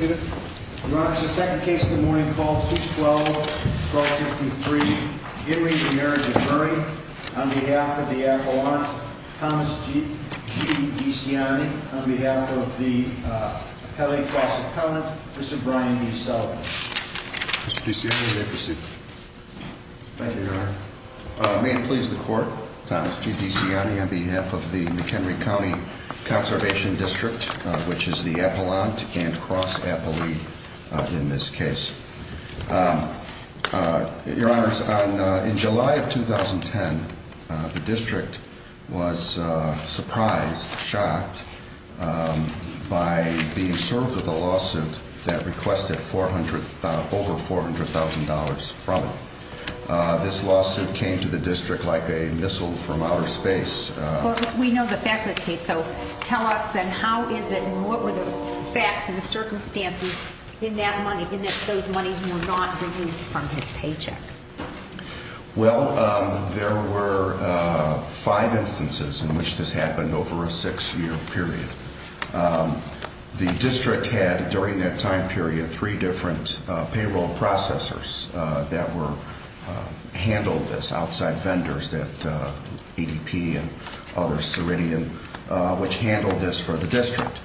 on behalf of the appellant Thomas G. Giussiani on behalf of the Pele Cross Accountant, Mr. Brian B. Sullivan. Mr. Giussiani, you may proceed. Thank you, Your Honor. May it please the Court, Thomas G. Giussiani on behalf of the McHenry County Conservation District, which is the appellant and cross appellee in this case. Your Honor, in July of 2010, the district was surprised, shocked, by being served with a lawsuit that requested over $400,000 from it. This lawsuit came to the district like a missile from outer space. We know the facts of the case, so tell us, then, how is it, and what were the facts and the circumstances in that money, in that those monies were not removed from his paycheck? Well, there were five instances in which this happened over a six-year period. The district had, during that time period, three different payroll processors that handled this, outside vendors that, ADP and others, Ceridian, which handled this for the district.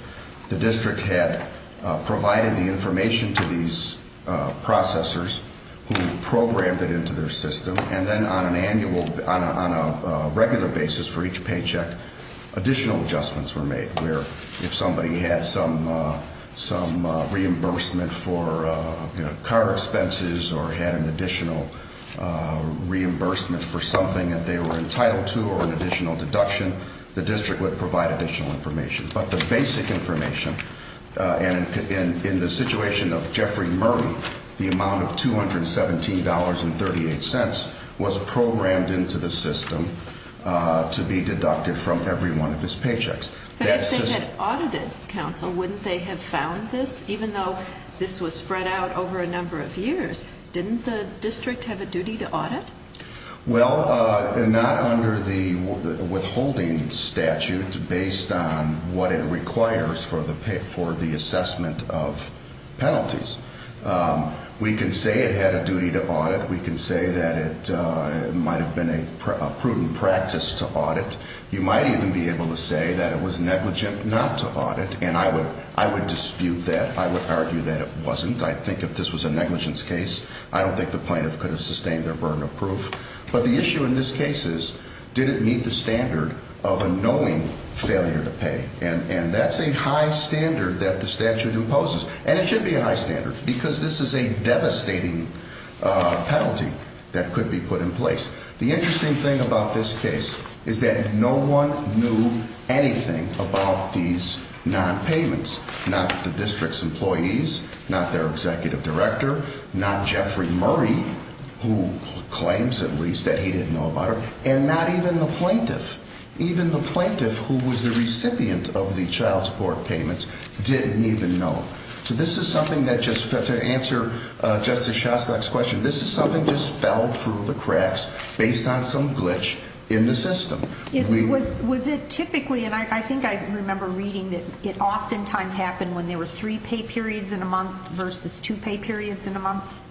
The district had provided the information to these processors, who programmed it into their system, and then on an annual, on a regular basis for each paycheck, additional adjustments were made, where if somebody had some reimbursement for car expenses or had an additional reimbursement for something that they were entitled to, or an additional deduction, the district would provide additional information. But the basic information, and in the situation of Jeffrey Murray, the amount of $217.38 was programmed into the system to be deducted from every one of his paychecks. But if they had audited, counsel, wouldn't they have found this? Even though this was spread out over a number of years, didn't the district have a duty to audit? Well, not under the withholding statute, based on what it requires for the assessment of penalties. We can say it had a duty to audit. We can say that it might have been a prudent practice to audit. You might even be able to say that it was negligent not to audit, and I would dispute that. I would argue that it wasn't. I think if this was a negligence case, I don't think the plaintiff could have sustained their burden of proof. But the issue in this case is, did it meet the standard of a knowing failure to pay? And that's a high standard that the statute imposes, and it should be a high standard, because this is a devastating penalty that could be put in place. The interesting thing about this case is that no one knew anything about these non-payments, not the district's employees, not their executive director, not Jeffrey Murray, who claims at least that he didn't know about it, and not even the plaintiff. Even the plaintiff, who was the recipient of the child support payments, didn't even know. So this is something that just, to answer Justice Shostak's question, this is something that just fell through the cracks based on some glitch in the system. Was it typically, and I think I remember reading that it oftentimes happened when there were three pay periods in a month versus two pay periods in a month?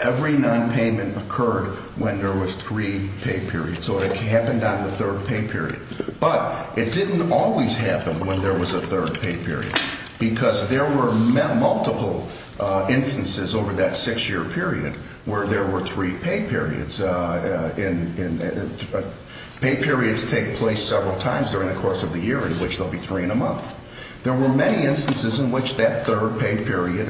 Every non-payment occurred when there was three pay periods, so it happened on the third pay period. But it didn't always happen when there was a third pay period, because there were multiple instances over that six-year period where there were three pay periods. Pay periods take place several times during the course of the year, in which there'll be three in a month. There were many instances in which that third pay period,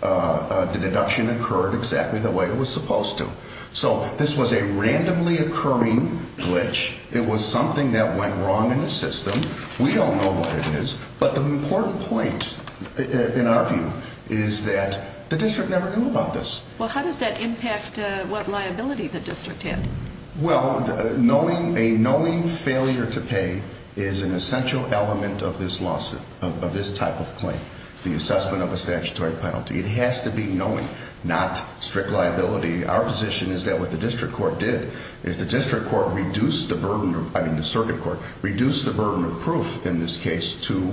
the deduction occurred exactly the way it was supposed to. So this was a randomly occurring glitch. It was something that went wrong in the system. We don't know what it is. But the important point, in our view, is that the district never knew about this. Well, how does that impact what liability the district had? Well, a knowing failure to pay is an essential element of this lawsuit, of this type of claim, the assessment of a statutory penalty. It has to be knowing, not strict liability. Our position is that what the district court did is the district court reduced the burden of, I mean the circuit court, reduced the burden of proof in this case to,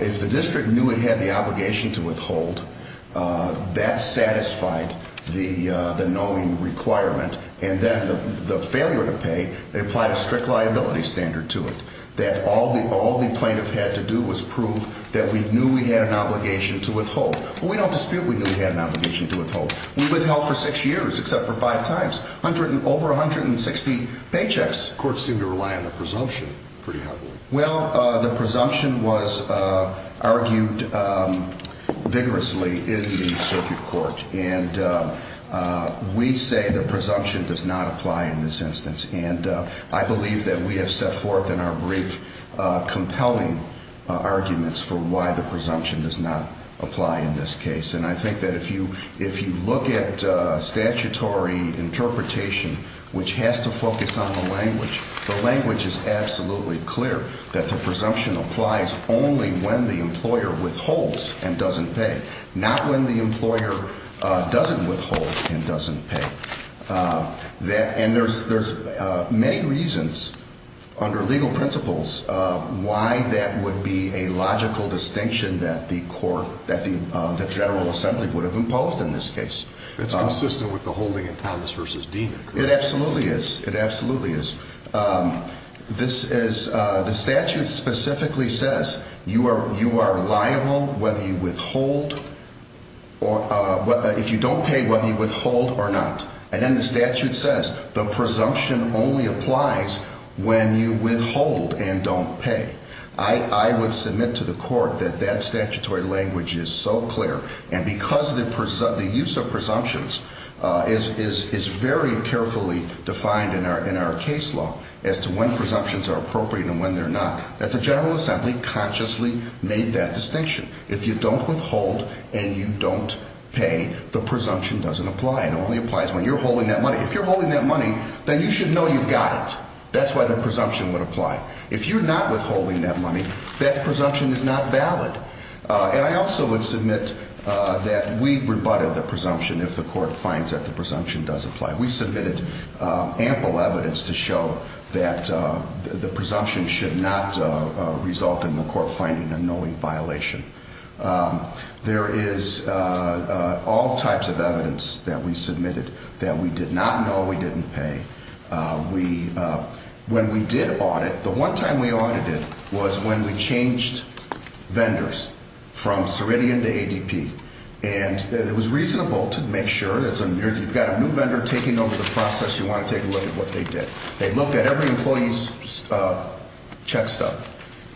if the district knew it had the obligation to withhold, that satisfied the knowing requirement. And then the failure to pay, they applied a strict liability standard to it. That all the plaintiff had to do was prove that we knew we had an obligation to withhold. Well, we don't dispute we knew we had an obligation to withhold. We withheld for six years, except for five times. Over 160 paychecks. Courts seem to rely on the presumption pretty heavily. Well, the presumption was argued vigorously in the circuit court. And we say the presumption does not apply in this instance. And I believe that we have set forth in our brief compelling arguments for why the presumption does not apply in this case. And I think that if you look at statutory interpretation, which has to focus on the language, the language is absolutely clear that the presumption applies only when the employer withholds and doesn't pay. Not when the employer doesn't withhold and doesn't pay. And there's many reasons under legal principles why that would be a logical distinction that the court, that the General Assembly would have imposed in this case. It's consistent with the holding in Thomas v. Deenan. It absolutely is. It absolutely is. The statute specifically says you are liable whether you withhold or if you don't pay, whether you withhold or not. And then the statute says the presumption only applies when you withhold and don't pay. I would submit to the court that that statutory language is so clear. And because the use of presumptions is very carefully defined in our case law as to when presumptions are appropriate and when they're not, that the General Assembly consciously made that distinction. If you don't withhold and you don't pay, the presumption doesn't apply. It only applies when you're holding that money. If you're holding that money, then you should know you've got it. That's why the presumption would apply. If you're not withholding that money, that presumption is not valid. And I also would submit that we've rebutted the presumption if the court finds that the presumption does apply. We submitted ample evidence to show that the presumption should not result in the court finding a knowing violation. There is all types of evidence that we submitted that we did not know we didn't pay. We, when we did audit, the one time we audited was when we changed vendors from Ceridian to ADP. And it was reasonable to make sure, you've got a new vendor taking over the process, you want to take a look at what they did. They looked at every employee's check stub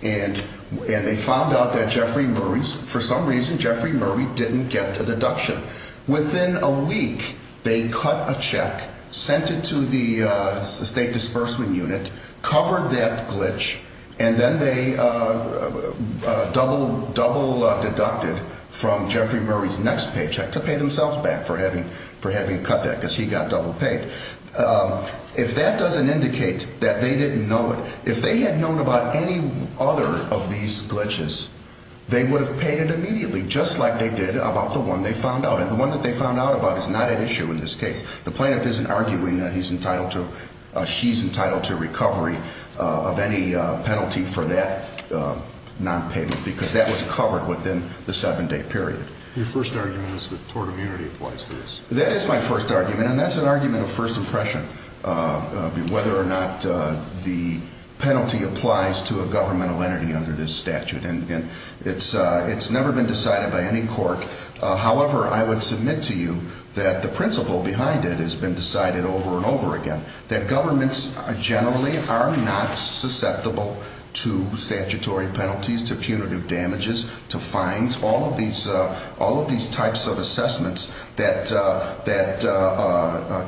and they found out that Jeffrey Murray's, for some reason, Jeffrey Murray didn't get a deduction. Within a week, they cut a check, sent it to the state disbursement unit, covered that glitch, and then they double deducted from Jeffrey Murray's next paycheck to pay themselves back for having cut that because he got double paid. If that doesn't indicate that they didn't know it, if they had known about any other of these glitches, they would have paid it immediately, just like they did about the one that they found out about is not at issue in this case. The plaintiff isn't arguing that he's entitled to, she's entitled to recovery of any penalty for that nonpayment because that was covered within the seven day period. Your first argument is that tort immunity applies to this. That is my first argument and that's an argument of first impression, whether or not the penalty applies to a governmental entity under this statute. And it's never been decided by any court. However, I would submit to you that the principle behind it has been decided over and over again, that governments generally are not susceptible to statutory penalties, to punitive damages, to fines, all of these types of assessments that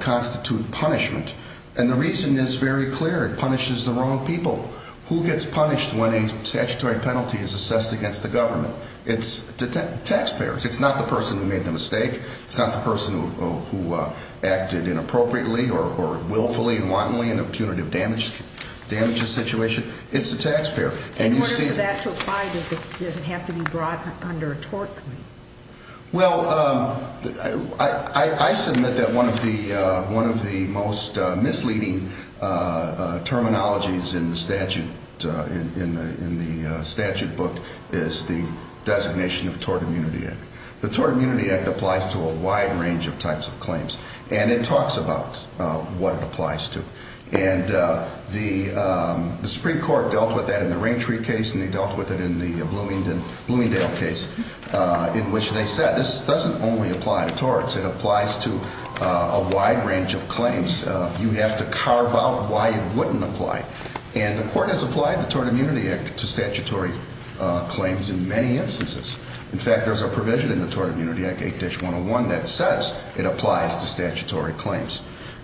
constitute punishment. And the reason is very clear. It punishes the wrong people. Who gets punished when a statutory penalty is assessed against the government? It's the taxpayers. It's not the person who made the mistake. It's not the person who acted inappropriately or willfully and wantonly in a punitive damage situation. It's the taxpayer. In order for that to apply, does it have to be brought under a tort committee? Well, I submit that one of the most misleading terminologies in the statute book is the Tort Immunity Act. The Tort Immunity Act applies to a wide range of types of claims. And it talks about what it applies to. And the Supreme Court dealt with that in the Raintree case, and they dealt with it in the Bloomingdale case, in which they said, this doesn't only apply to torts. It applies to a wide range of claims. You have to carve out why it wouldn't apply. And the court has applied the Tort Immunity Act to statutory claims in many instances. In fact, there's a provision in the Tort Immunity Act, 8-101, that says it applies to statutory claims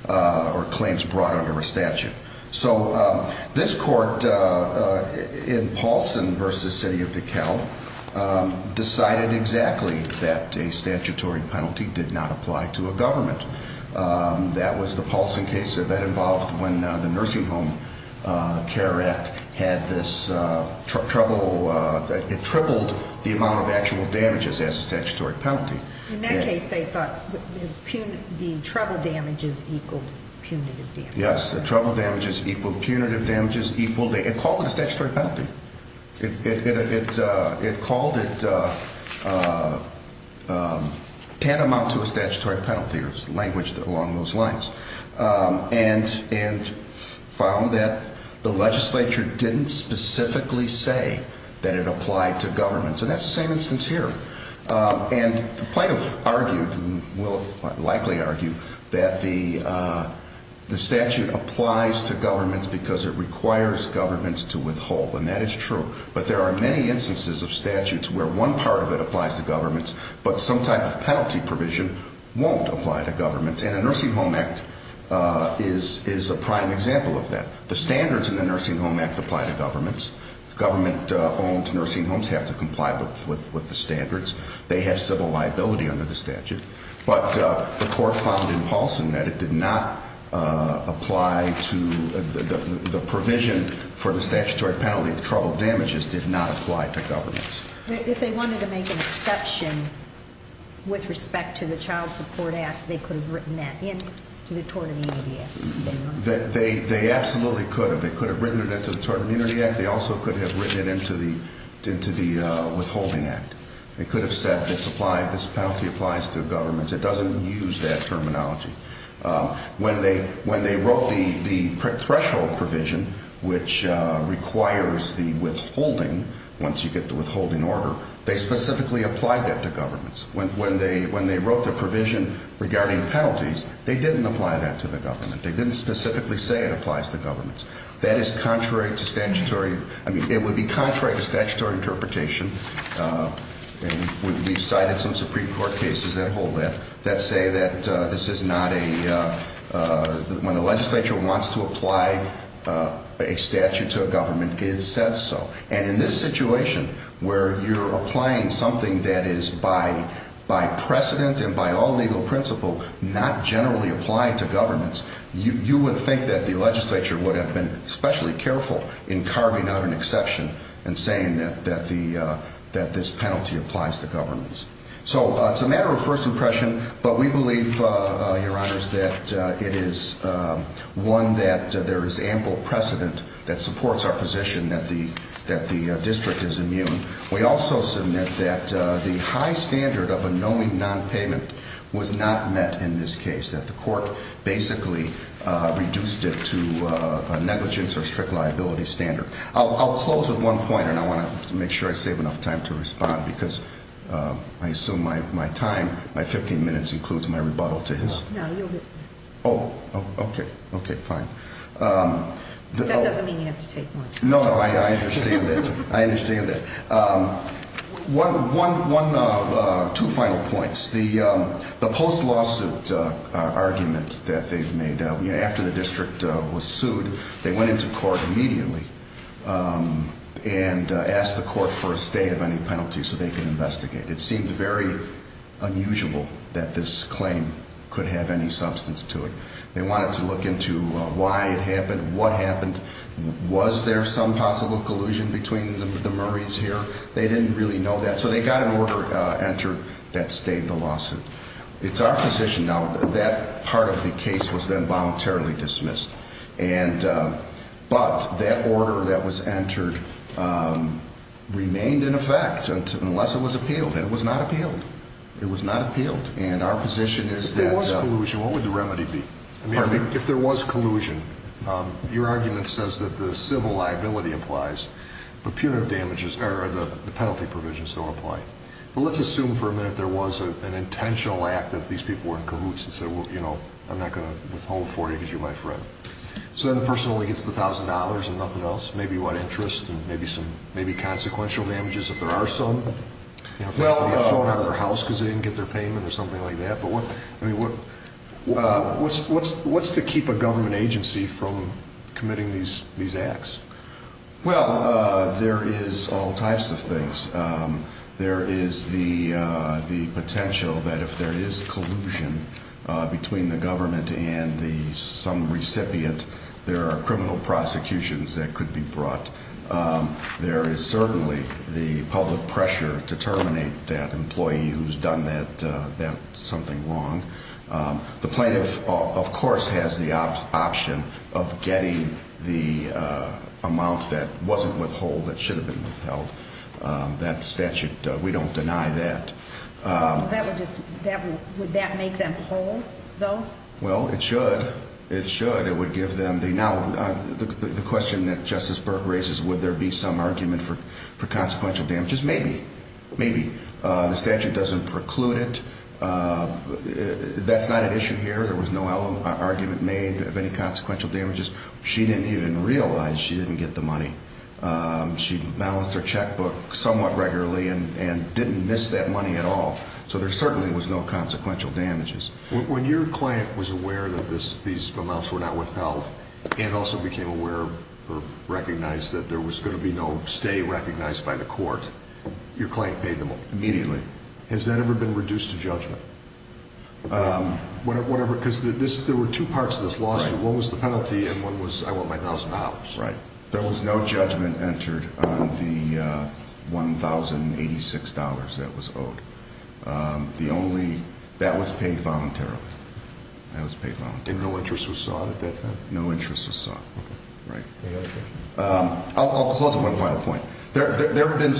or claims brought under a statute. So this court, in Paulson v. City of DeKalb, decided exactly that a statutory penalty did not apply to a government. That was the Paulson case that involved when the Nursing Home Care Act had this trouble that it tripled the amount of actual damages as a statutory penalty. In that case, they thought the trouble damages equaled punitive damages. Yes, the trouble damages equaled punitive damages. It called it a statutory penalty. It called it tantamount to a statutory penalty. It was languished along those lines. And found that the legislature didn't specifically say that it applied to governments. And that's the same instance here. And the plaintiff argued, and will likely argue, that the statute applies to governments because it requires governments to withhold. And that is true. But there are many instances of statutes where one part of it applies to governments, but some type of penalty provision won't apply to governments. And the Nursing Home Act is a prime example of that. The standards in the Nursing Home Act apply to governments. Government-owned nursing homes have to comply with the standards. They have civil liability under the statute. But the court found in Paulson that it did not apply to the provision for the statutory penalty. The trouble damages did not apply to governments. If they wanted to make an exception with respect to the Child Support Act, they could have written that into the Tort Immunity Act. They absolutely could have. They could have written it into the Tort Immunity Act. They also could have written it into the Withholding Act. They could have said, this penalty applies to governments. It doesn't use that terminology. When they wrote the threshold provision, which requires the withholding, once you get the withholding order, they specifically applied that to governments. When they wrote the provision regarding penalties, they didn't apply that to the government. They didn't specifically say it applies to governments. It would be contrary to statutory interpretation, and we've cited some Supreme Court cases that hold that, that say that when the legislature wants to apply a statute to a government, it says so. And in this situation, where you're applying something that is by precedent and by all legal principle, not generally applied to governments, you would think that the legislature would have been especially careful in carving out an exception and saying that this penalty applies to governments. So it's a matter of first impression, but we believe, Your Honors, that it is one that there is ample precedent that supports our position that the district is immune. We also submit that the high standard of a knowing nonpayment was not met in this case, that the court basically reduced it to a negligence or strict liability standard. I'll close with one point, and I want to make sure I save enough time to respond, because I assume my time, my 15 minutes, includes my rebuttal to his. No, you'll get it. Oh, okay. Okay, fine. That doesn't mean you have to take more time. No, no, I understand that. I understand that. Two final points. The post-lawsuit argument that they've made, after the district was sued, they went into court immediately and asked the court for a stay of any penalties so they could investigate. It seemed very unusual that this claim could have any substance to it. They wanted to look into why it happened, what happened. Was there some possible collusion between the Murrays here? They didn't really know that, so they got an order entered that stayed the lawsuit. It's our position now, that part of the case was then voluntarily dismissed, but that order that was entered remained in effect, unless it was appealed, and it was not appealed. It was not appealed. And our position is that— If there was collusion, what would the remedy be? If there was collusion, your argument says that the civil liability applies, but punitive damages, or the penalty provisions don't apply. But let's assume for a minute there was an intentional act that these people were in cahoots and said, well, you know, I'm not going to withhold for you because you're my friend. So then the person only gets the $1,000 and nothing else. Maybe what interest, and maybe consequential damages if there are some. You know, if they had to be thrown out of their house because they didn't get their payment or something like that. I mean, what's to keep a government agency from committing these acts? Well, there is all types of things. There is the potential that if there is collusion between the government and some recipient, there are criminal prosecutions that could be brought. There is certainly the public pressure to terminate that employee who's done that something wrong. The plaintiff, of course, has the option of getting the amount that wasn't withheld, that should have been withheld. That statute, we don't deny that. Would that make them whole, though? Well, it should. It should. It would give them the... Now, the question that Justice Burke raises, would there be some argument for consequential damages? Maybe, maybe. The statute doesn't preclude it. That's not an issue here. There was no argument made of any consequential damages. She didn't even realize she didn't get the money. She balanced her checkbook somewhat regularly and didn't miss that money at all. So there certainly was no consequential damages. When your client was aware that these amounts were not withheld and also became aware or recognized that there was going to be no stay recognized by the court, your client paid immediately. Has that ever been reduced to judgment? Whatever, because there were two parts of this lawsuit. One was the penalty and one was, I want my $1,000. Right. There was no judgment entered on the $1,086 that was owed. The only... That was paid voluntarily. That was paid voluntarily. And no interest was sought at that time? No interest was sought. Right. I'll close with one final point. There have been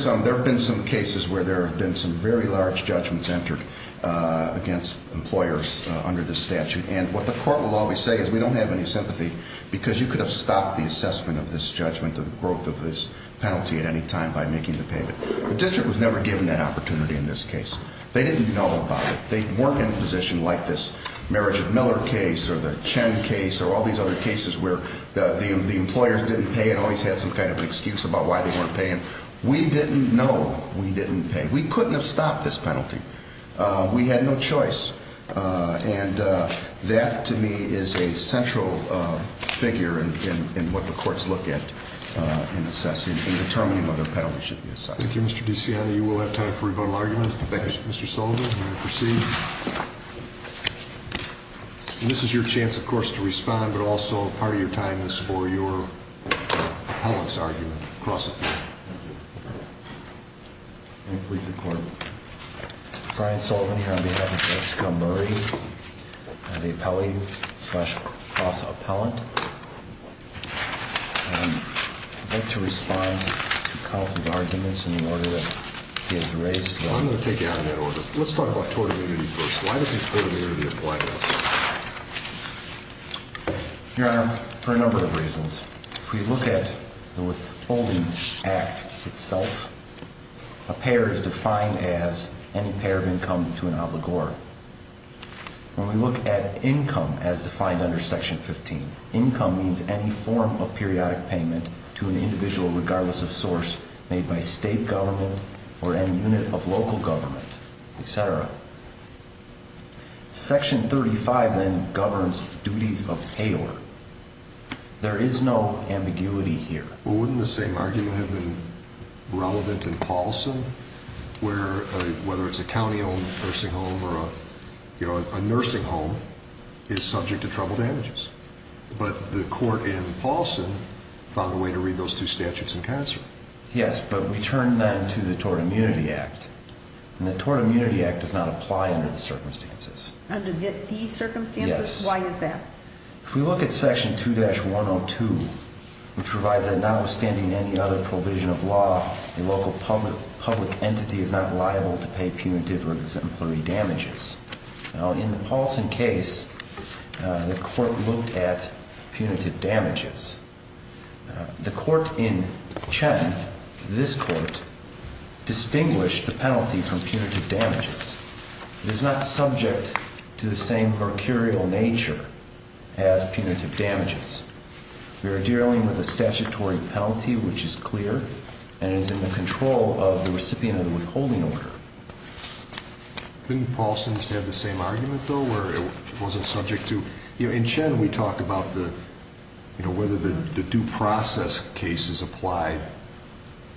some cases where there have been some very large judgments entered against employers under this statute. And what the court will always say is, we don't have any sympathy because you could have stopped the assessment of this judgment or the growth of this penalty at any time by making the payment. The district was never given that opportunity in this case. They didn't know about it. They weren't in a position like this marriage of Miller case or the Chen case or all these other cases where the employers didn't pay and always had some kind of excuse about why they weren't paying. We didn't know. We didn't pay. We couldn't have stopped this penalty. We had no choice. And that, to me, is a central figure in what the courts look at in assessing and determining whether a penalty should be assessed. Thank you, Mr. DiCiano. You will have time for a rebuttal argument. Thank you. Mr. Sullivan, you may proceed. And this is your chance, of course, to respond. But also, part of your time is for your appellant's argument, cross-appellant. Thank you. I'm pleased to report, Brian Sullivan here on behalf of Jessica Murray, the appellee slash cross-appellant. I'd like to respond to Counsel's arguments in the order that he has raised them. I'm going to take you out of that order. Let's talk about totem immunity first. Why does he have totem immunity? Your Honor, for a number of reasons. If we look at the Withholding Act itself, a payer is defined as any payer of income to an obligor. When we look at income as defined under Section 15, income means any form of periodic payment to an individual, regardless of source, made by state government or any unit of local government, et cetera. Section 35 then governs duties of payer. There is no ambiguity here. Well, wouldn't the same argument have been relevant in Paulson, where whether it's a county-owned nursing home or a nursing home is subject to trouble damages? But the court in Paulson found a way to read those two statutes in concert. Yes, but we turn then to the Tort Immunity Act. And the Tort Immunity Act does not apply under the circumstances. Under these circumstances? Yes. Why is that? If we look at Section 2-102, which provides that notwithstanding any other provision of law, a local public entity is not liable to pay punitive or exemplary damages. Now, in the Paulson case, the court looked at punitive damages. The court in Chen, this court, distinguished the penalty from punitive damages. It is not subject to the same mercurial nature as punitive damages. We are dealing with a statutory penalty, which is clear, and is in the control of the recipient of the withholding order. Couldn't Paulson have the same argument, though, where it wasn't subject to? In Chen, we talked about whether the due process case is applied,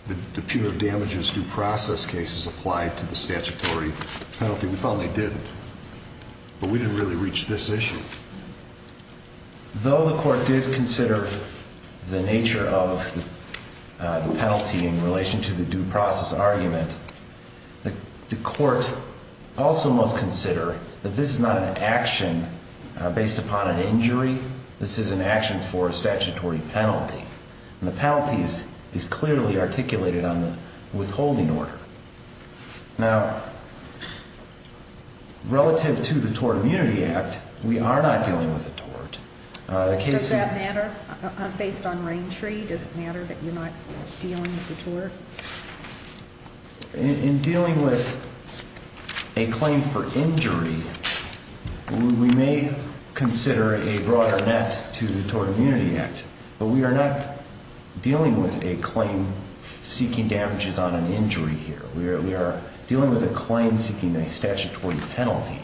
the punitive damages due process case is applied to the statutory penalty. We found they didn't. But we didn't really reach this issue. Though the court did consider the nature of the penalty in relation to the due process argument, the court also must consider that this is not an action based upon an injury. This is an action for a statutory penalty, and the penalty is clearly articulated on the withholding order. Now, relative to the Tort Immunity Act, we are not dealing with a tort. Does that matter? Based on Raintree, does it matter that you're not dealing with a tort? In dealing with a claim for injury, we may consider a broader net to the Tort Immunity Act. But we are not dealing with a claim seeking damages on an injury here. We are dealing with a claim seeking a statutory penalty.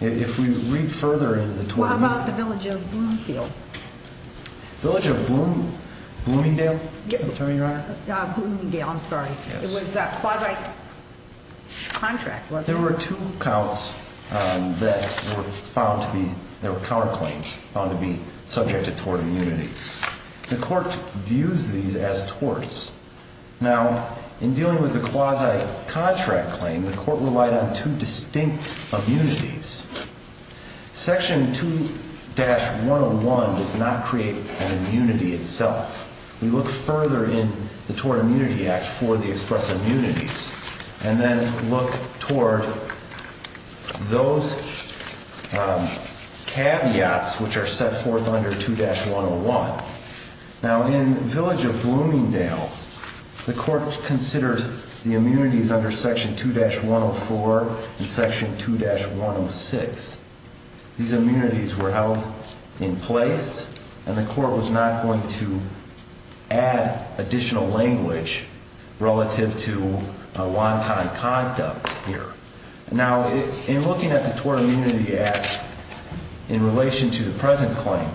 If we read further into the Tort Immunity Act- What about the Village of Bloomingdale? Village of Bloomingdale? I'm sorry, Your Honor? Bloomingdale, I'm sorry. It was that quasi-contract, wasn't it? There were two counts that were found to be- they were counterclaims found to be subject to tort immunity. The court views these as torts. Now, in dealing with the quasi-contract claim, the court relied on two distinct immunities. Section 2-101 does not create an immunity itself. We look further in the Tort Immunity Act for the express immunities and then look toward those caveats which are set forth under 2-101. Now, in Village of Bloomingdale, the court considered the immunities under Section 2-104 and Section 2-106. These immunities were held in place and the court was not going to add additional language relative to a long-time conduct here. Now, in looking at the Tort Immunity Act in relation to the present claim,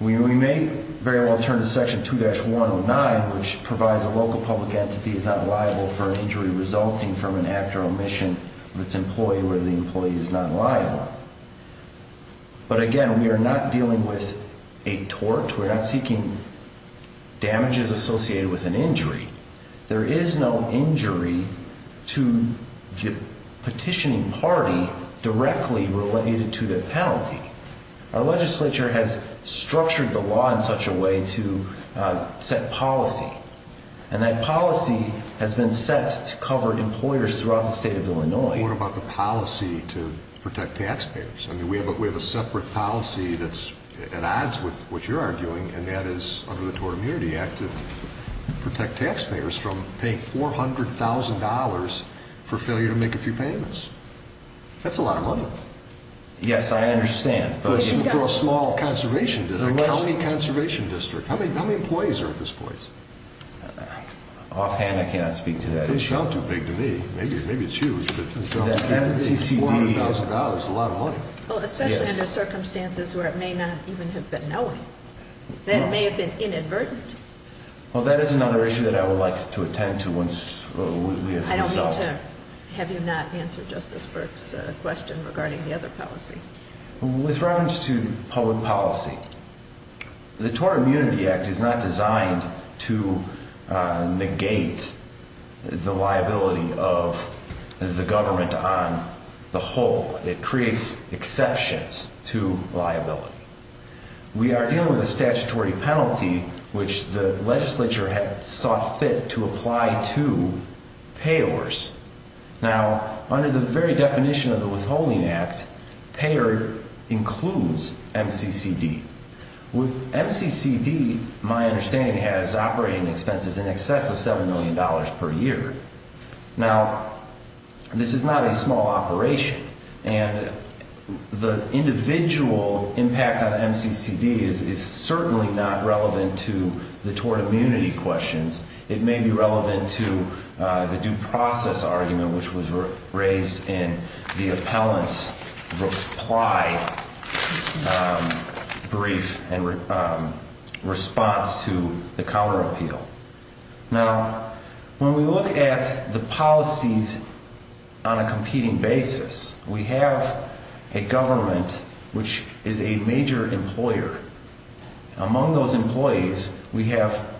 we may very well turn to Section 2-109, which provides a local public entity is not liable for an injury. But again, we are not dealing with a tort. We're not seeking damages associated with an injury. There is no injury to the petitioning party directly related to the penalty. Our legislature has structured the law in such a way to set policy, and that policy is to protect taxpayers. I mean, we have a separate policy that's at odds with what you're arguing, and that is under the Tort Immunity Act to protect taxpayers from paying $400,000 for failure to make a few payments. That's a lot of money. Yes, I understand. But for a small conservation district, a county conservation district, how many employees are at this place? Offhand, I cannot speak to that issue. It doesn't sound too big to me. Maybe it's huge, but it doesn't sound too big. $400,000 is a lot of money. Well, especially under circumstances where it may not even have been knowing. That may have been inadvertent. Well, that is another issue that I would like to attend to once we have the result. I don't mean to have you not answer Justice Burke's question regarding the other policy. With reference to public policy, the Tort Immunity Act is not designed to negate the liability of the government on the whole. It creates exceptions to liability. We are dealing with a statutory penalty, which the legislature had sought fit to apply to payors. Now, under the very definition of the Withholding Act, payer includes MCCD. With MCCD, my understanding has operating expenses in excess of $7 million per year. Now, this is not a small operation. And the individual impact on MCCD is certainly not relevant to the tort immunity questions. It may be relevant to the due process argument, which was raised in the appellant's reply and response to the counter appeal. Now, when we look at the policies on a competing basis, we have a government which is a major employer. Among those employees, we have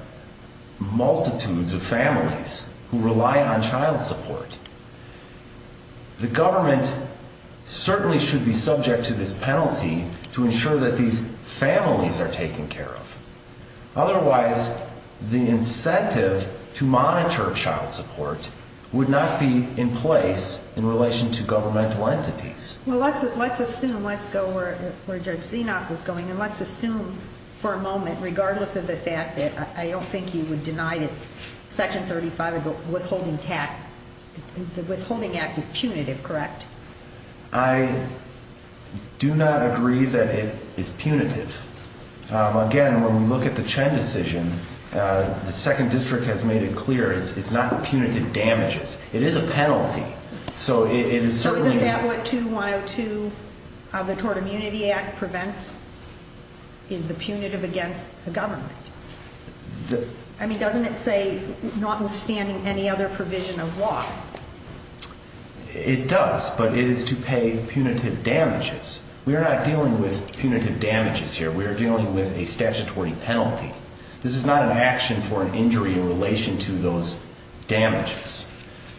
multitudes of families who rely on child support. The government certainly should be subject to this penalty to ensure that these families are taken care of. Otherwise, the incentive to monitor child support would not be in place in relation to governmental entities. Well, let's assume, let's go where Judge Zinoc was going, and let's assume for a moment, regardless of the fact that I don't think he would deny that Section 35 of the Withholding Act is punitive, correct? I do not agree that it is punitive. Again, when we look at the Chen decision, the Second District has made it clear, it's not punitive damages. It is a penalty. So it is certainly... So isn't that what 2102 of the Tort Immunity Act prevents, is the punitive against the government? I mean, doesn't it say, notwithstanding any other provision of law? It does, but it is to pay punitive damages. We are not dealing with punitive damages here. We are dealing with a statutory penalty. This is not an action for an injury in relation to those damages.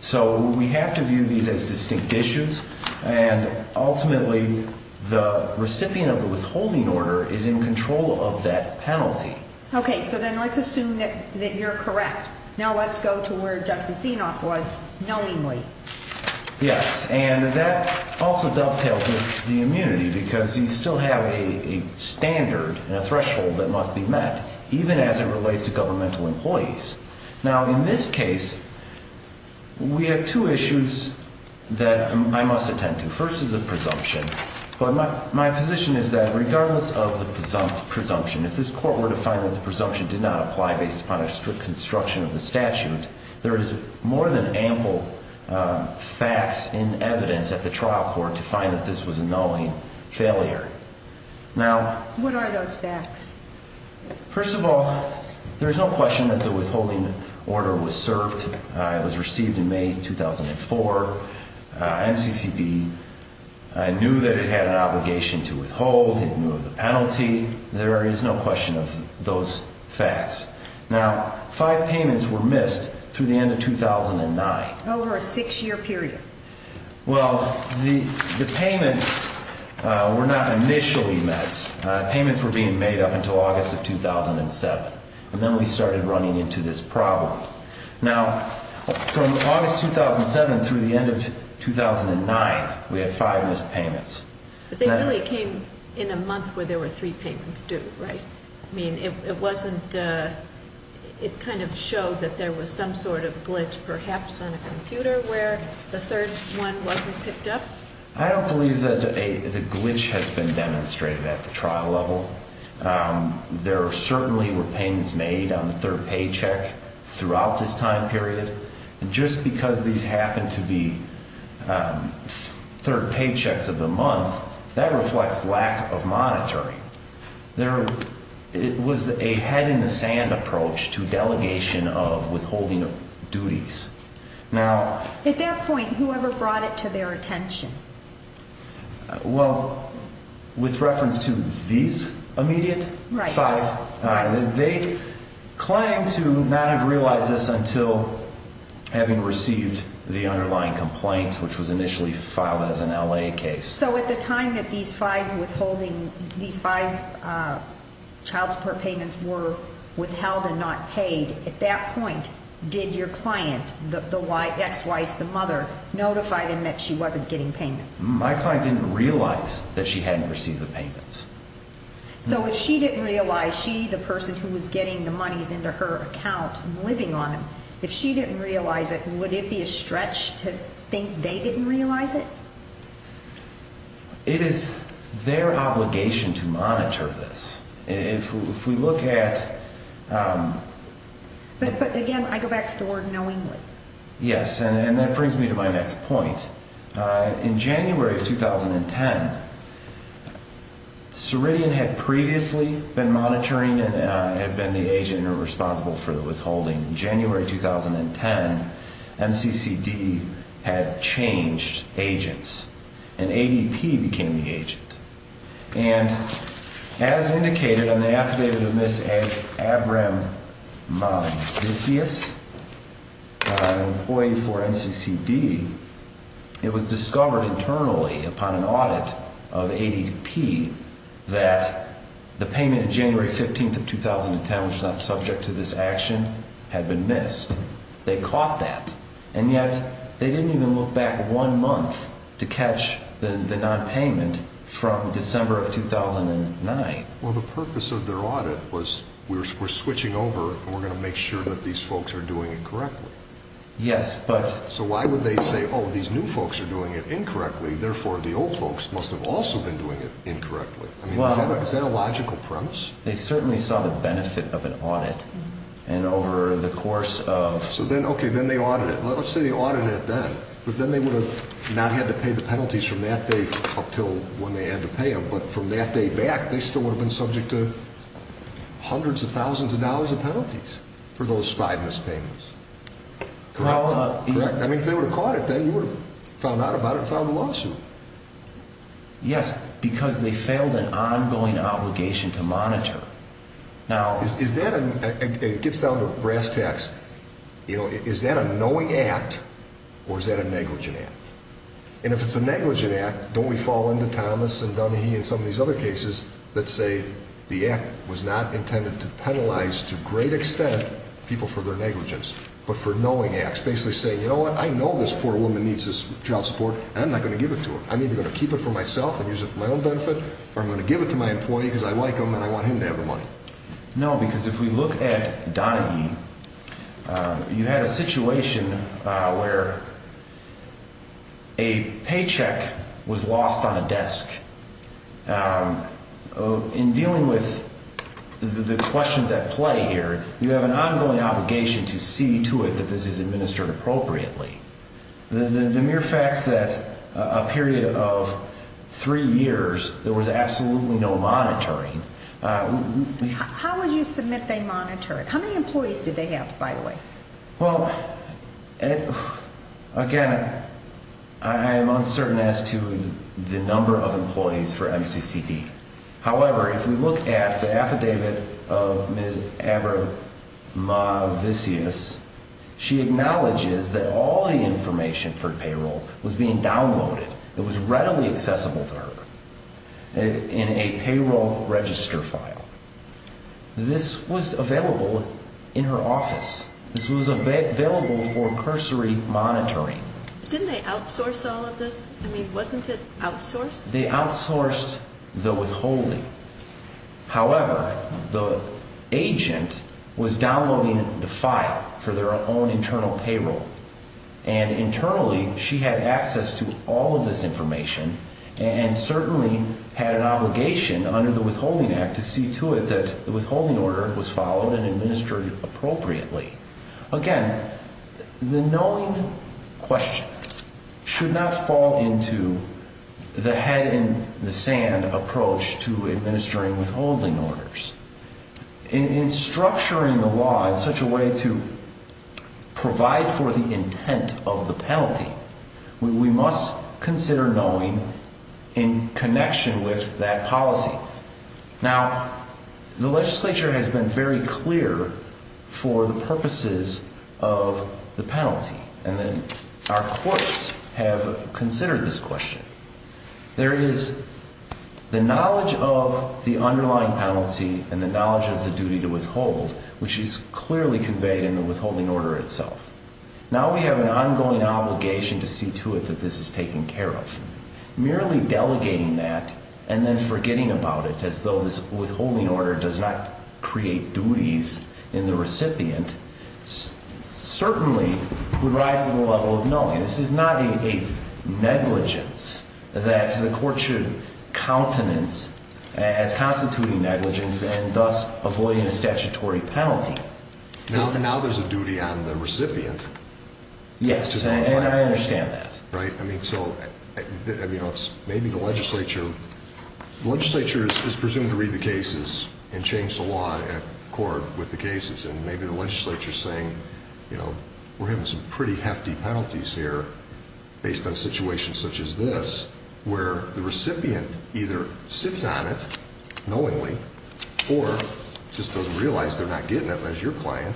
So we have to view these as distinct issues, and ultimately, the recipient of the withholding is in control of that penalty. Okay, so then let's assume that you're correct. Now let's go to where Justice Zinoc was, knowingly. Yes, and that also dovetails with the immunity, because you still have a standard and a threshold that must be met, even as it relates to governmental employees. Now, in this case, we have two issues that I must attend to. The first is a presumption, but my position is that regardless of the presumption, if this court were to find that the presumption did not apply based upon a strict construction of the statute, there is more than ample facts and evidence at the trial court to find that this was a knowing failure. Now... What are those facts? First of all, there is no question that the withholding order was served. It was received in May 2004. NCCD knew that it had an obligation to withhold. It knew of the penalty. There is no question of those facts. Now, five payments were missed through the end of 2009. Over a six-year period. Well, the payments were not initially met. Payments were being made up until August of 2007, and then we started running into this problem. Now, from August 2007 through the end of 2009, we had five missed payments. But they really came in a month where there were three payments due, right? I mean, it wasn't... It kind of showed that there was some sort of glitch, perhaps on a computer, where the third one wasn't picked up? I don't believe that the glitch has been demonstrated at the trial level. There certainly were payments made on the third paycheck throughout this time period. And just because these happened to be third paychecks of the month, that reflects lack of monitoring. There was a head-in-the-sand approach to delegation of withholding duties. Now... At that point, whoever brought it to their attention? Well, with reference to these immediate five, they claimed to not have realized this until having received the underlying complaint, which was initially filed as an L.A. case. So at the time that these five withholding... These five child support payments were withheld and not paid, at that point, did your client, ex-wife, the mother, notify them that she wasn't getting payments? My client didn't realize that she hadn't received the payments. So if she didn't realize, she, the person who was getting the monies into her account and living on them, if she didn't realize it, would it be a stretch to think they didn't realize it? It is their obligation to monitor this. If we look at... But again, I go back to the word knowingly. Yes, and that brings me to my next point. In January of 2010, Ceridian had previously been monitoring and had been the agent responsible for the withholding. In January 2010, MCCD had changed agents, and ADP became the agent. And as indicated on the affidavit of Ms. Abramadisias, an employee for MCCD, it was discovered internally upon an audit of ADP that the payment of January 15th of 2010, which is not subject to this action, had been missed. They caught that, and yet they didn't even look back one month to catch the nonpayment from December of 2009. Well, the purpose of their audit was, we're switching over, and we're going to make sure that these folks are doing it correctly. Yes, but... So why would they say, oh, these new folks are doing it incorrectly, therefore the old folks must have also been doing it incorrectly? I mean, is that a logical premise? They certainly saw the benefit of an audit, and over the course of... So then, okay, then they audited. Let's say they audited it then, but then they would have not had to pay the penalties from that day up until when they had to pay them. But from that day back, they still would have been subject to hundreds of thousands of dollars of penalties for those five mispayments. Correct? Correct. I mean, if they would have caught it, then you would have found out about it and filed a lawsuit. Yes, because they failed an ongoing obligation to monitor. Now... It gets down to brass tacks. Is that a knowing act, or is that a negligent act? And if it's a negligent act, don't we fall into Thomas and Donahue and some of these other cases that say the act was not intended to penalize to great extent people for their negligence, but for knowing acts, basically saying, you know what, I know this poor woman needs this child support, and I'm not going to give it to her. I'm either going to keep it for myself and use it for my own benefit, or I'm going to give it to my employee because I like them and I want him to have the money. No, because if we look at Donahue, you had a situation where a paycheck was lost on a desk. In dealing with the questions at play here, you have an ongoing obligation to see to it that this is administered appropriately. The mere fact that a period of three years, there was absolutely no monitoring... How would you submit they monitored? How many employees did they have, by the way? Well, again, I am uncertain as to the number of employees for MCCD. However, if we look at the affidavit of Ms. Abramovicius, she acknowledges that all the information for payroll was being downloaded. It was readily accessible to her in a payroll register file. This was available in her office. This was available for cursory monitoring. Didn't they outsource all of this? I mean, wasn't it outsourced? They outsourced the withholding. However, the agent was downloading the file for their own internal payroll. And internally, she had access to all of this information and certainly had an obligation under the Withholding Act to see to it that the withholding order was followed and administered appropriately. Again, the knowing question should not fall into the head in the sand approach to administering withholding orders. In structuring the law in such a way to provide for the intent of the penalty, we must consider knowing in connection with that policy. Now, the legislature has been very clear for the purposes of the penalty. And then our courts have considered this question. There is the knowledge of the underlying penalty and the knowledge of the duty to withhold, which is clearly conveyed in the withholding order itself. Now we have an ongoing obligation to see to it that this is taken care of. Merely delegating that and then forgetting about it as though this withholding order does not create duties in the recipient certainly would rise to the level of knowing. This is not a negligence that the court should countenance as constituting negligence and thus avoiding a statutory penalty. Now there's a duty on the recipient. Yes, and I understand that. I mean, so maybe the legislature is presumed to read the cases and change the law at court with the cases. And maybe the legislature is saying, we're having some pretty hefty penalties here based on situations such as this where the recipient either sits on it knowingly or just doesn't realize they're not getting it as your client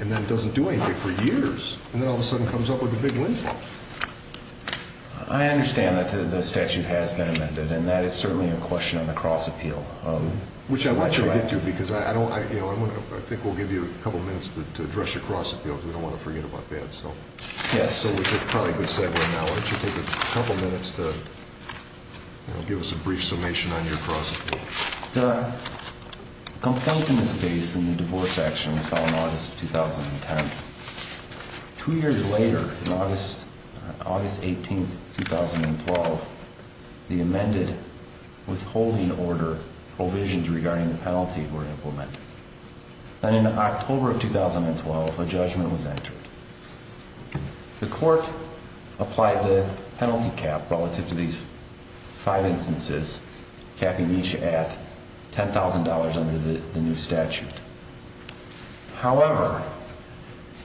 and then doesn't do anything for years and then all of a sudden comes up with a big windfall. I understand that the statute has been amended and that is certainly a question on the cross appeal, which I want to get to because I don't, you know, I think we'll give you a couple of minutes to address your cross appeal. We don't want to forget about that. So yes, so we should probably be saying right now, why don't you take a couple of minutes to give us a brief summation on your cross? The confound in this case in the divorce action was filed in August of 2010. Two years later, in August, August 18th, 2012, the amended withholding order provisions regarding the penalty were implemented and in October of 2012, a judgment was entered. The court applied the penalty cap relative to these five instances, capping each at $10,000 under the new statute. However,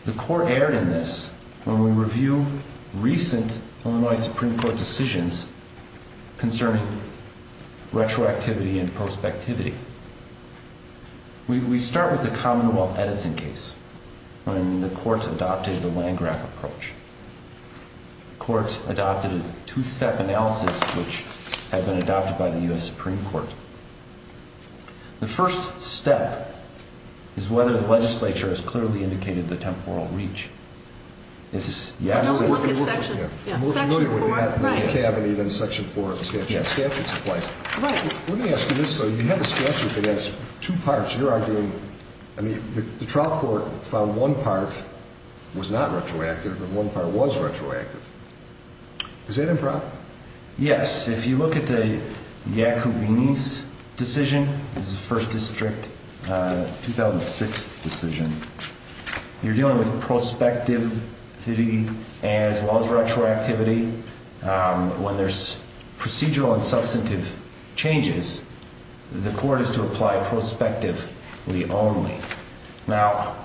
the court erred in this when we review recent Illinois Supreme Court decisions concerning retroactivity and prospectivity, we, we start with the Commonwealth Edison case when the court adopted the land grab approach, the court adopted a two-step analysis, which had been adopted by the U S Supreme Court. The first step is whether the legislature has clearly indicated the temporal reach. This is yes, section four of the statute supplies. Let me ask you this. So you have a statute that has two parts. You're arguing, I mean, the trial court found one part was not retroactive and one part was retroactive. Is that improper? Yes. If you look at the Yacoubini's decision, this is the first district 2006 decision, you're dealing with prospectivity as well as retroactivity. When there's procedural and substantive changes, the court is to apply prospectively only. Now,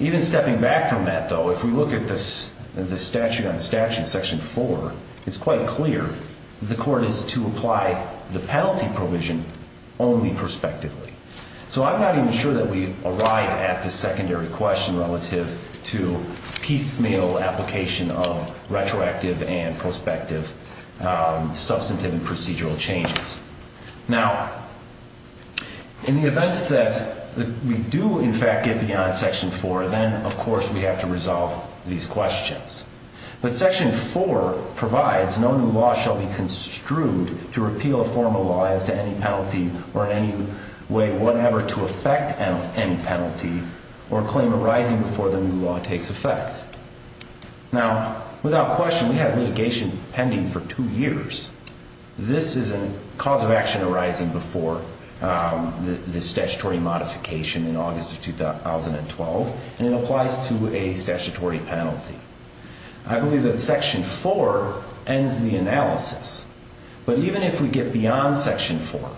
even stepping back from that, though, if we look at this, the statute on statute section four, it's quite clear. The court is to apply the penalty provision only prospectively. So I'm not even sure that we arrive at the secondary question relative to piecemeal application of retroactive and prospective substantive and procedural changes. Now, in the event that we do in fact get beyond section four, then of course we have to resolve these questions. But section four provides no new law shall be construed to repeal a form of law as to any penalty or in any way whatever to affect any penalty or claim arising before the new law takes effect. Now, without question, we have mitigation pending for two years. This is a cause of action arising before the statutory modification in August of 2012, and it applies to a statutory penalty. I believe that section four ends the analysis. But even if we get beyond section four,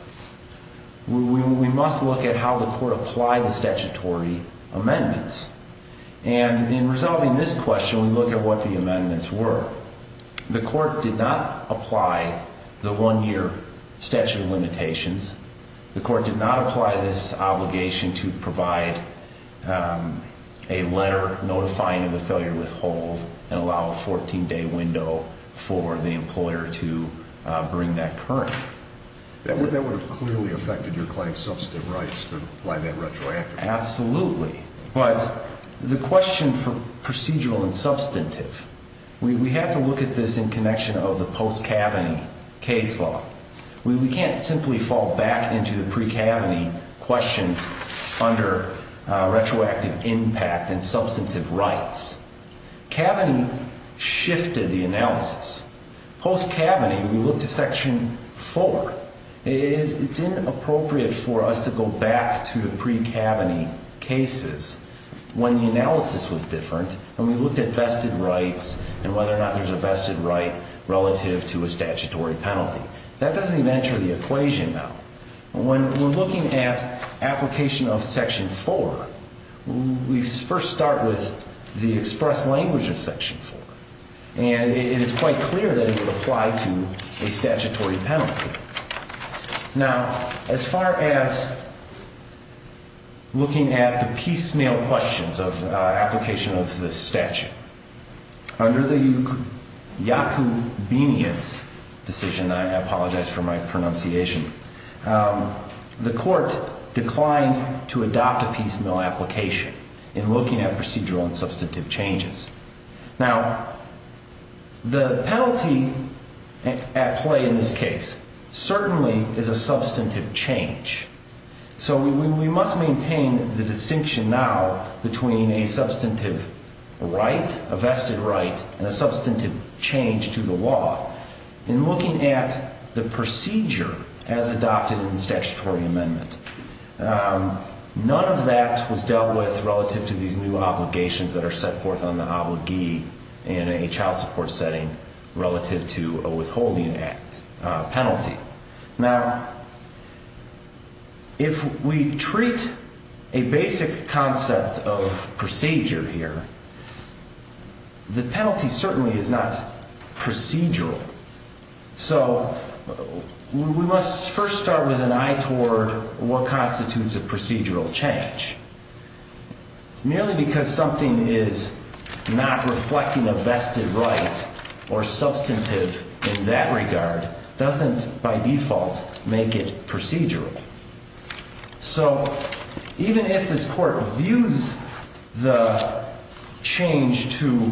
we must look at how the court apply the statutory amendments. And in resolving this question, we look at what the amendments were. The court did not apply the one-year statute of limitations. The court did not apply this obligation to provide a letter notifying of the failure to withhold and allow a 14-day window for the employer to bring that current. That would have clearly affected your client's substantive rights to apply that retroactively. Absolutely. But the question for procedural and substantive, we have to look at this in connection of the post-cabinet case law. We can't simply fall back into the pre-cabinet questions under retroactive impact and substantive rights. Cabinet shifted the analysis. Post-cabinet, we looked at section four. It's inappropriate for us to go back to the pre-cabinet cases when the analysis was different and we looked at vested rights and whether or not there's a vested right relative to a statutory penalty. That doesn't even enter the equation, though. When we're looking at application of section four, we first start with the express language of section four. And it is quite clear that it would apply to a statutory penalty. Now, as far as looking at the piecemeal questions of application of the statute, under the Yacoub decision, I apologize for my pronunciation, the court declined to adopt a piecemeal application in looking at procedural and substantive changes. Now, the penalty at play in this case certainly is a substantive change. So we must maintain the distinction now between a substantive right, a vested right, and a In looking at the procedure as adopted in the statutory amendment, none of that was dealt with relative to these new obligations that are set forth on the obligee in a child support setting relative to a withholding act penalty. Now, if we treat a basic concept of procedure here, the penalty certainly is not procedural. So we must first start with an eye toward what constitutes a procedural change. It's merely because something is not reflecting a vested right or substantive in that regard doesn't, by default, make it procedural. So, even if this court views the change to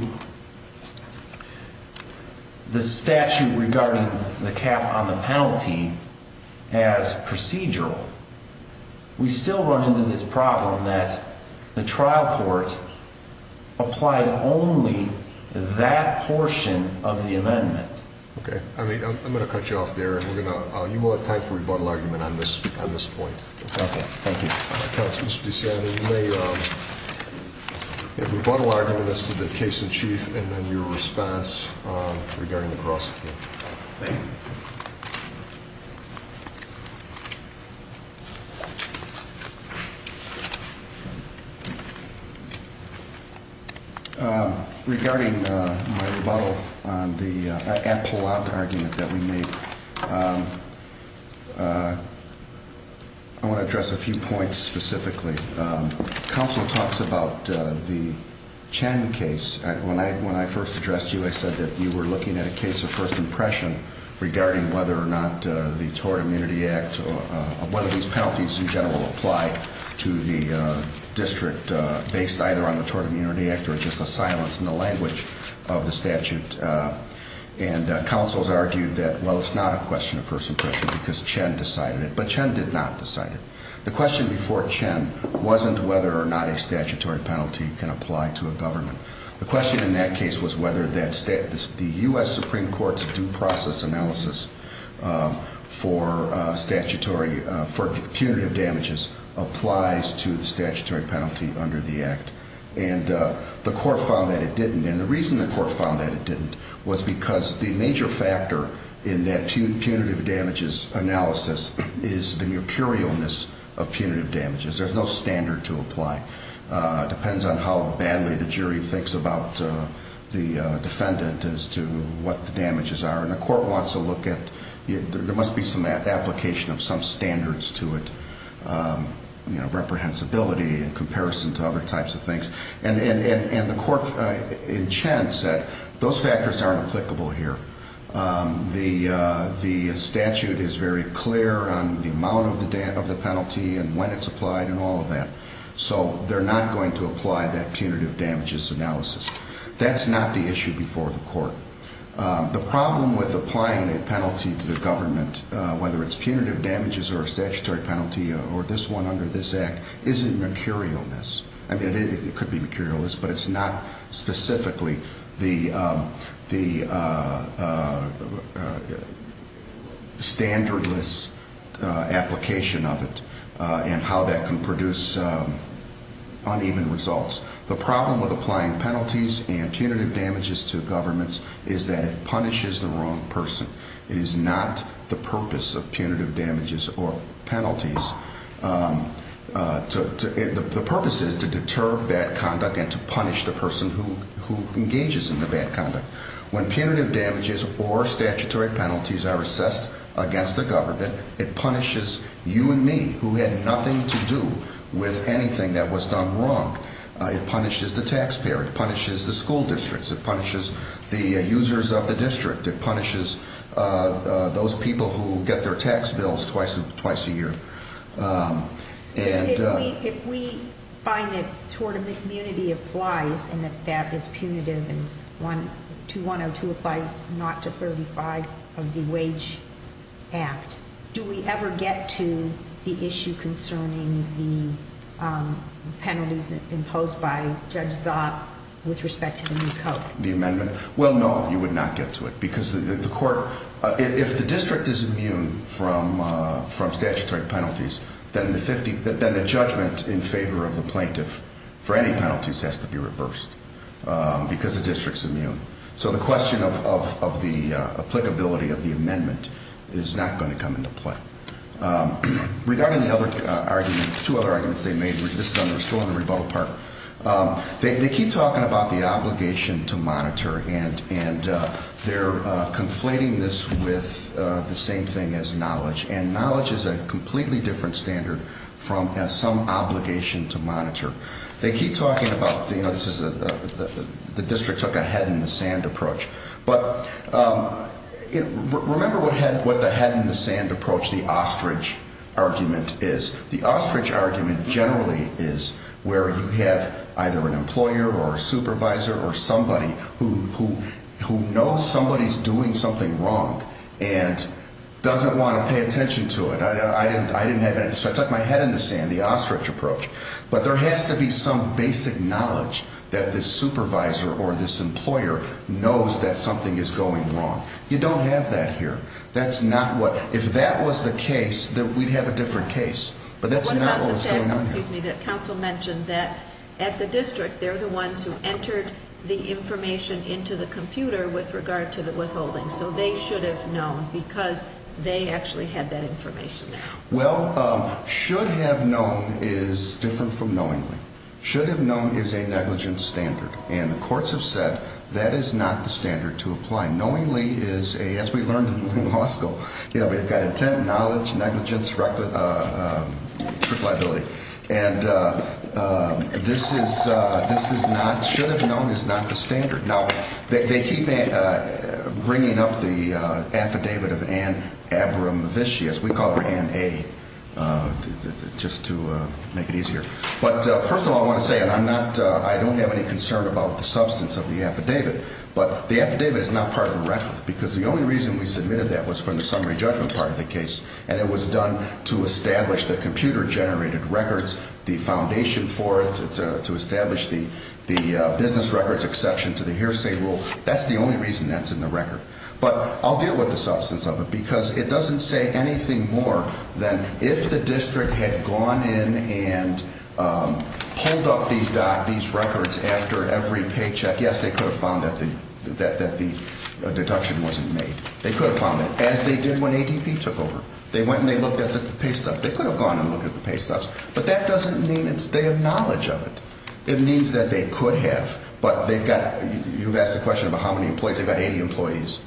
the statute regarding the cap on the penalty as procedural, we still run into this problem that the trial court applied only that portion of the amendment. Okay. I mean, I'm going to cut you off there and we're going to, you will have time for rebuttal argument on this, on this point. Okay. Thank you. Counsel, Mr. DeSantis, you may, your rebuttal argument is to the case in chief and then your response regarding the cross-examination. Thank you. Regarding my rebuttal on the at-pull-out argument that we made, I want to address a few points specifically. Counsel talks about the Chen case. When I first addressed you, I said that you were looking at a case of first impression regarding whether or not the Tort Immunity Act, whether these penalties in general apply to the district based either on the Tort Immunity Act or just a silence in the language of the statute. And counsels argued that, well, it's not a question of first impression because Chen decided it, but Chen did not decide it. The question before Chen wasn't whether or not a statutory penalty can apply to a government. The question in that case was whether the U.S. Supreme Court's due process analysis for punitive damages applies to the statutory penalty under the act. And the court found that it didn't. And the reason the court found that it didn't was because the major factor in that punitive damages analysis is the mercurialness of punitive damages. There's no standard to apply. Depends on how badly the jury thinks about the defendant as to what the damages are. And the court wants to look at, there must be some application of some standards to it, you know, reprehensibility in comparison to other types of things. And the court in Chen said those factors aren't applicable here. The statute is very clear on the amount of the penalty and when it's applied and all of that. So they're not going to apply that punitive damages analysis. That's not the issue before the court. The problem with applying a penalty to the government, whether it's punitive damages or a statutory penalty or this one under this act, isn't mercurialness. I mean, it could be mercurialness, but it's not specifically the standardless application of it and how that can produce uneven results. The problem with applying penalties and punitive damages to governments is that it punishes the wrong person. It is not the purpose of punitive damages or penalties. The purpose is to deter bad conduct and to punish the person who engages in the bad conduct. When punitive damages or statutory penalties are assessed against the government, it punishes you and me who had nothing to do with anything that was done wrong. It punishes the taxpayer. It punishes the school districts. It punishes the users of the district. It punishes those people who get their tax bills twice a year. If we find that tort of the community applies and that that is punitive and 2102 applies not to 35 of the Wage Act, do we ever get to the issue concerning the penalties imposed by Judge Zott with respect to the new code? The amendment? Well, no, you would not get to it. Because if the district is immune from statutory penalties, then the judgment in favor of the plaintiff for any penalties has to be reversed because the district's immune. So the question of the applicability of the amendment is not going to come into play. Regarding the other argument, two other arguments they made, this is still on the rebuttal part, they keep talking about the obligation to monitor and they're conflating this with the same thing as knowledge. And knowledge is a completely different standard from some obligation to monitor. They keep talking about the district took a head in the sand approach. But remember what the head in the sand approach, the ostrich argument is. The ostrich argument generally is where you have either an employer or a supervisor or somebody who knows somebody's doing something wrong and doesn't want to pay attention to it. I didn't have that. So I took my head in the sand, the ostrich approach. But there has to be some basic knowledge that this supervisor or this employer knows that something is going wrong. You don't have that here. That's not what, if that was the case, then we'd have a different case. But that's not what's going on here. What about the fact, excuse me, that counsel mentioned that at the district, they're the ones who entered the information into the computer with regard to the withholding. So they should have known because they actually had that information there. Well, should have known is different from knowingly. Should have known is a negligent standard. And the courts have said that is not the standard to apply. Knowingly is a, as we learned in law school, you know, we've got intent, knowledge, negligence, trip liability. And this is, this is not, should have known is not the standard. Now they keep bringing up the affidavit of Ann Abramovich, as we call her Ann A, just to make it easier. But first of all, I want to say, and I'm not, I don't have any concern about the substance of the affidavit, but the affidavit is not part of the record because the only reason we submitted that was from the summary judgment part of the case. And it was done to establish the computer generated records, the foundation for it to establish the business records exception to the hearsay rule. That's the only reason that's in the record. But I'll deal with the substance of it because it doesn't say anything more than if the district had gone in and pulled up these records after every paycheck. Yes, they could have found that the deduction wasn't made. They could have found it as they did when ADP took over. They went and they looked at the pay stubs. They could have gone and looked at the pay stubs, but that doesn't mean they have knowledge of it. It means that they could have, but they've got, you've asked the question about how many employees. They've got 80 employees.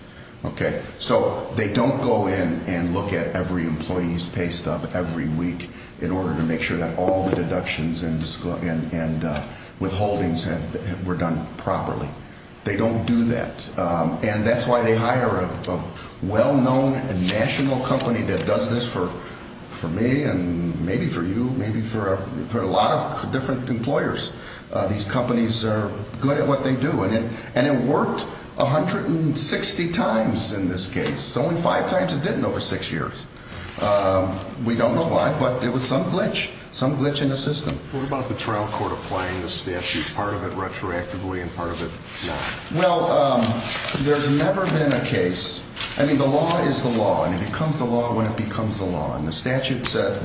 Okay. So they don't go in and look at every employee's pay stub every week in order to make sure that all the deductions and withholdings were done properly. They don't do that. And that's why they hire a well-known and national company that does this for me and maybe for you, maybe for a lot of different employers. These companies are good at what they do. And it worked 160 times in this case, only five times it didn't over six years. We don't know why, but it was some glitch, some glitch in the system. What about the trial court applying the statute, part of it retroactively and part of it not? Well, there's never been a case. I mean, the law is the law and it becomes the law when it becomes the law. The statute said,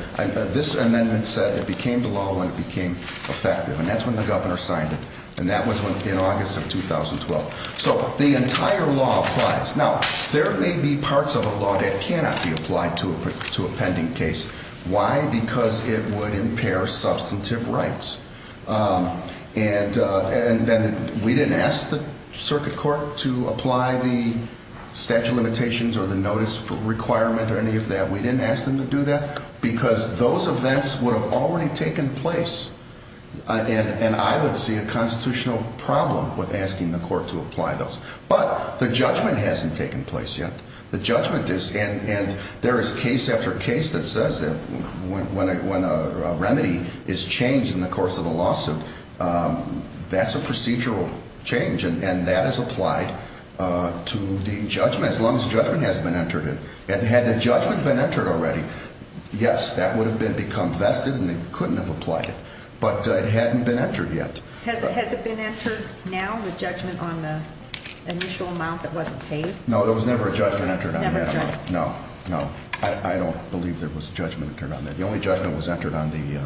this amendment said it became the law when it became effective. And that's when the governor signed it. And that was in August of 2012. So the entire law applies. Now there may be parts of a law that cannot be applied to a, to a pending case. Why? Because it would impair substantive rights. And, and then we didn't ask the circuit court to apply the statute limitations or the notice for requirement or any of that. We didn't ask them to do that because those events would have already taken place. And I would see a constitutional problem with asking the court to apply those. But the judgment hasn't taken place yet. The judgment is, and there is case after case that says that when a remedy is changed in the course of a lawsuit, that's a procedural change and that is applied to the judgment as long as judgment has been entered in. And had the judgment been entered already, yes, that would have been become vested and they couldn't have applied it, but it hadn't been entered yet. Has it, has it been entered now? The judgment on the initial amount that wasn't paid? No, there was never a judgment entered on that. No, no, I don't believe there was a judgment entered on that. The only judgment was entered on the,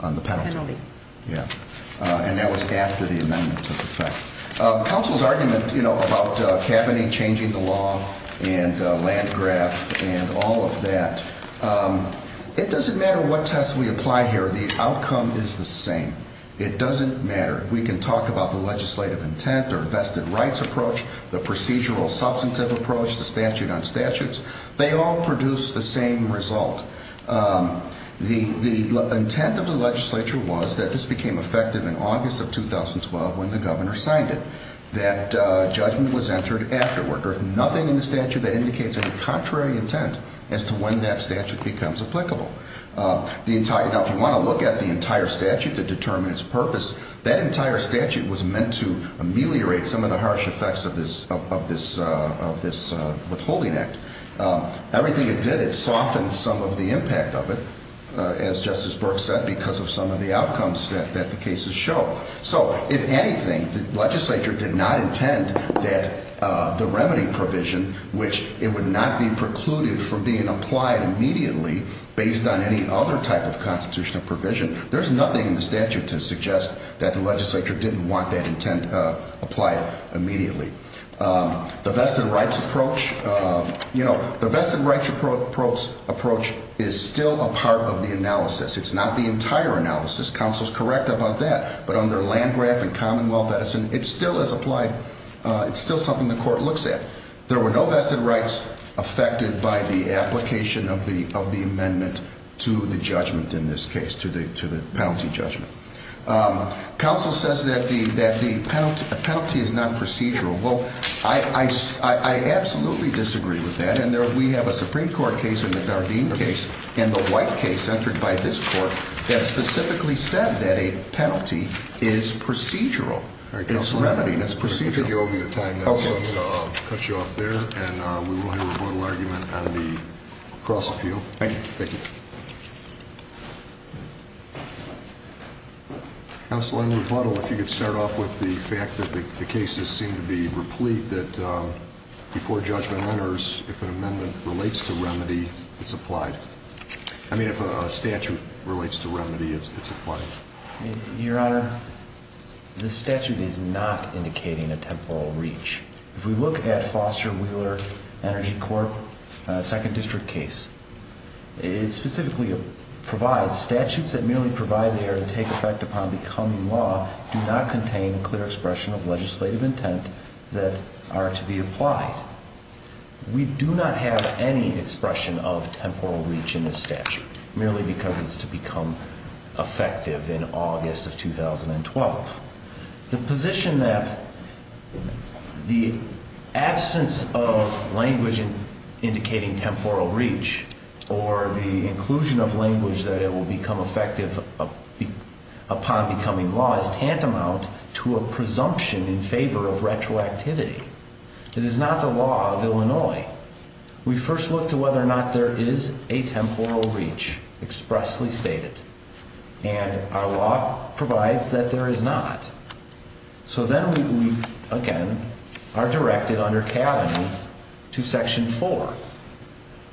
on the penalty. Yeah. And that was after the amendment took effect. Counsel's argument, you know, about a cabinet changing the law and a land graph and all of that. It doesn't matter what test we apply here. The outcome is the same. It doesn't matter. We can talk about the legislative intent or vested rights approach, the procedural substantive approach, the statute on statutes. They all produce the same result. The, the intent of the legislature was that this became effective in August of 2012 when the governor signed it. That judgment was entered afterward. There's nothing in the statute that indicates any contrary intent as to when that statute becomes applicable. The entire, now if you want to look at the entire statute to determine its purpose, that entire statute was meant to ameliorate some of the harsh effects of this, of this, of this withholding act. Everything it did, it softened some of the impact of it, as Justice Burke said, because of some of the outcomes that, that the cases show. So if anything, the legislature did not intend that the remedy provision, which it would not be precluded from being applied immediately based on any other type of constitutional provision, there's nothing in the statute to suggest that the legislature didn't want that intent applied immediately. The vested rights approach, you know, the vested rights approach approach is still a part of the analysis. It's not the entire analysis. Counsel's correct about that. But under Landgraf and Commonwealth Edison, it still is applied. It's still something the court looks at. There were no vested rights affected by the application of the, of the amendment to the judgment in this case, to the, to the penalty judgment. Counsel says that the, that the penalty, the penalty is not procedural. Well, I, I, I absolutely disagree with that. And there, we have a Supreme Court case and the Dardeen case and the White case entered by this court that specifically said that a penalty is procedural. It's remedy. That's procedural. We're going to get you over your time. That'll cut you off there. And we will hear a rebuttal argument on the cross appeal. Thank you. Thank you. Counsel, I would rebuttal if you could start off with the fact that the cases seem to be replete that before judgment enters, if an amendment relates to remedy, it's applied. I mean, if a statute relates to remedy, it's, it's applied. Your Honor, the statute is not indicating a temporal reach. If we look at Foster Wheeler Energy Corp, second district case, it specifically provides statutes that merely provide the air to take effect upon becoming law, do not contain clear expression of legislative intent that are to be applied. We do not have any expression of temporal reach in this statute merely because it's to become effective in August of 2012. The position that the absence of language indicating temporal reach or the inclusion of language that it will become effective upon becoming law is tantamount to a presumption in favor of retroactivity. It is not the law of Illinois. We first look to whether or not there is a temporal reach expressly stated, and our law provides that there is not. So then we, again, are directed under Cavan to section four,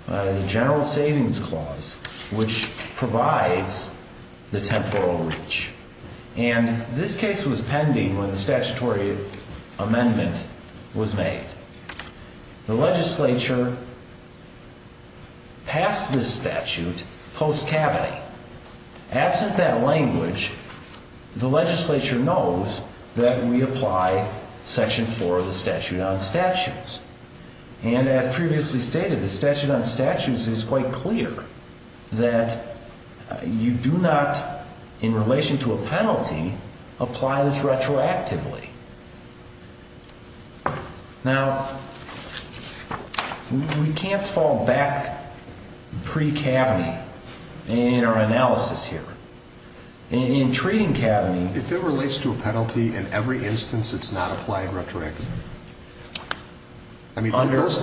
the general savings clause, which provides the temporal reach. And this case was pending when the statutory amendment was made. The legislature passed this statute post Cavan. Absent that language, the legislature knows that we apply section four of the statute on statutes, and as previously stated, the statute on statutes is quite clear that you do not, in relation to a penalty, apply this retroactively. Now, we can't fall back pre-Cavan in our analysis here. In treating Cavan, if it relates to a penalty, in every instance, it's not applied retroactively. I mean, those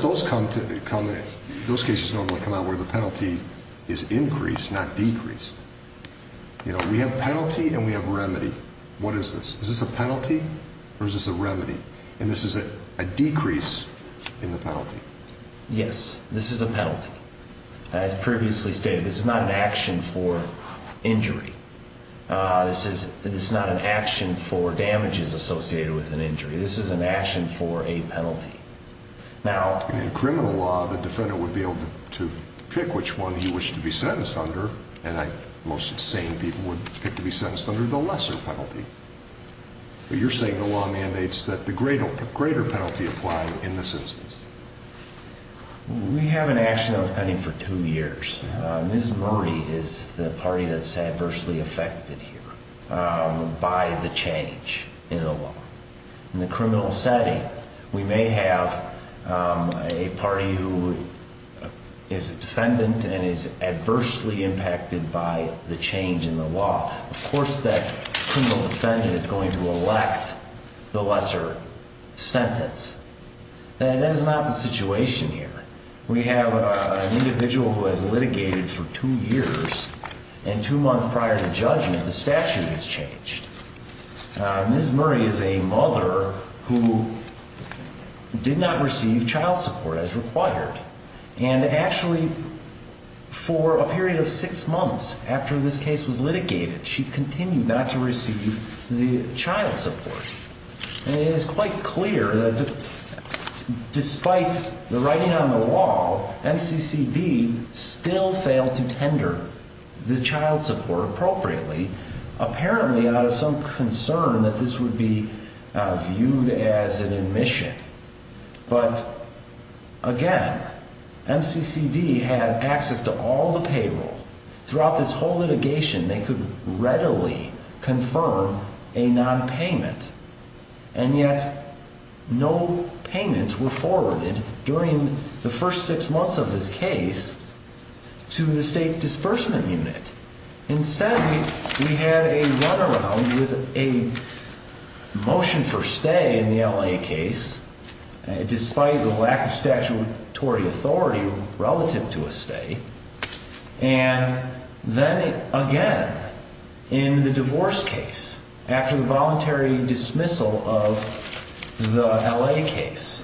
cases normally come out where the penalty is increased, not decreased. You know, we have penalty and we have remedy. What is this? Is this a penalty or is this a remedy? And this is a decrease in the penalty. Yes, this is a penalty. As previously stated, this is not an action for injury. This is not an action for damages associated with an injury. This is an action for a penalty. Now, in criminal law, the defendant would be able to pick which one he wished to be saying people would pick to be sentenced under the lesser penalty. But you're saying the law mandates that the greater penalty apply in this instance. We have an action that was pending for two years. Ms. Murray is the party that's adversely affected here by the change in the law. In the criminal setting, we may have a party who is a defendant and is adversely impacted by the change in the law. Of course, that criminal defendant is going to elect the lesser sentence. That is not the situation here. We have an individual who has litigated for two years and two months prior to judgment, the statute has changed. Ms. Murray is a mother who did not receive child support as required. And actually, for a period of six months after this case was litigated, she continued not to receive the child support. And it is quite clear that despite the writing on the wall, MCCD still failed to tender the child support appropriately, apparently out of some concern that this would be viewed as an admission. But again, MCCD had access to all the payroll. Throughout this whole litigation, they could readily confirm a nonpayment. And yet, no payments were forwarded during the first six months of this case to the state disbursement unit. Instead, we had a runaround with a motion for stay in the L.A. case, despite the lack of statutory authority relative to a stay. And then again, in the divorce case, after the voluntary dismissal of the L.A. case,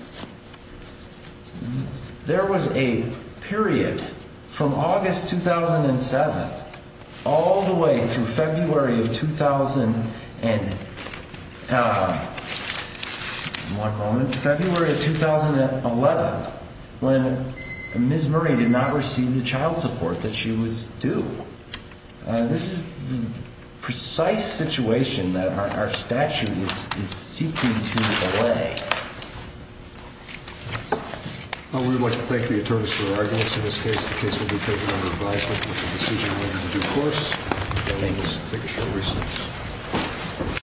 there was a period from August 2007 all the way through February of 2011 when Ms. Murray did not receive the child support that she was due. This is the precise situation that our statute is seeking to allay. We would like to thank the attorneys for their arguments in this case. The case will be taken under advisement with a decision on it in due course. Thank you. Appreciate it.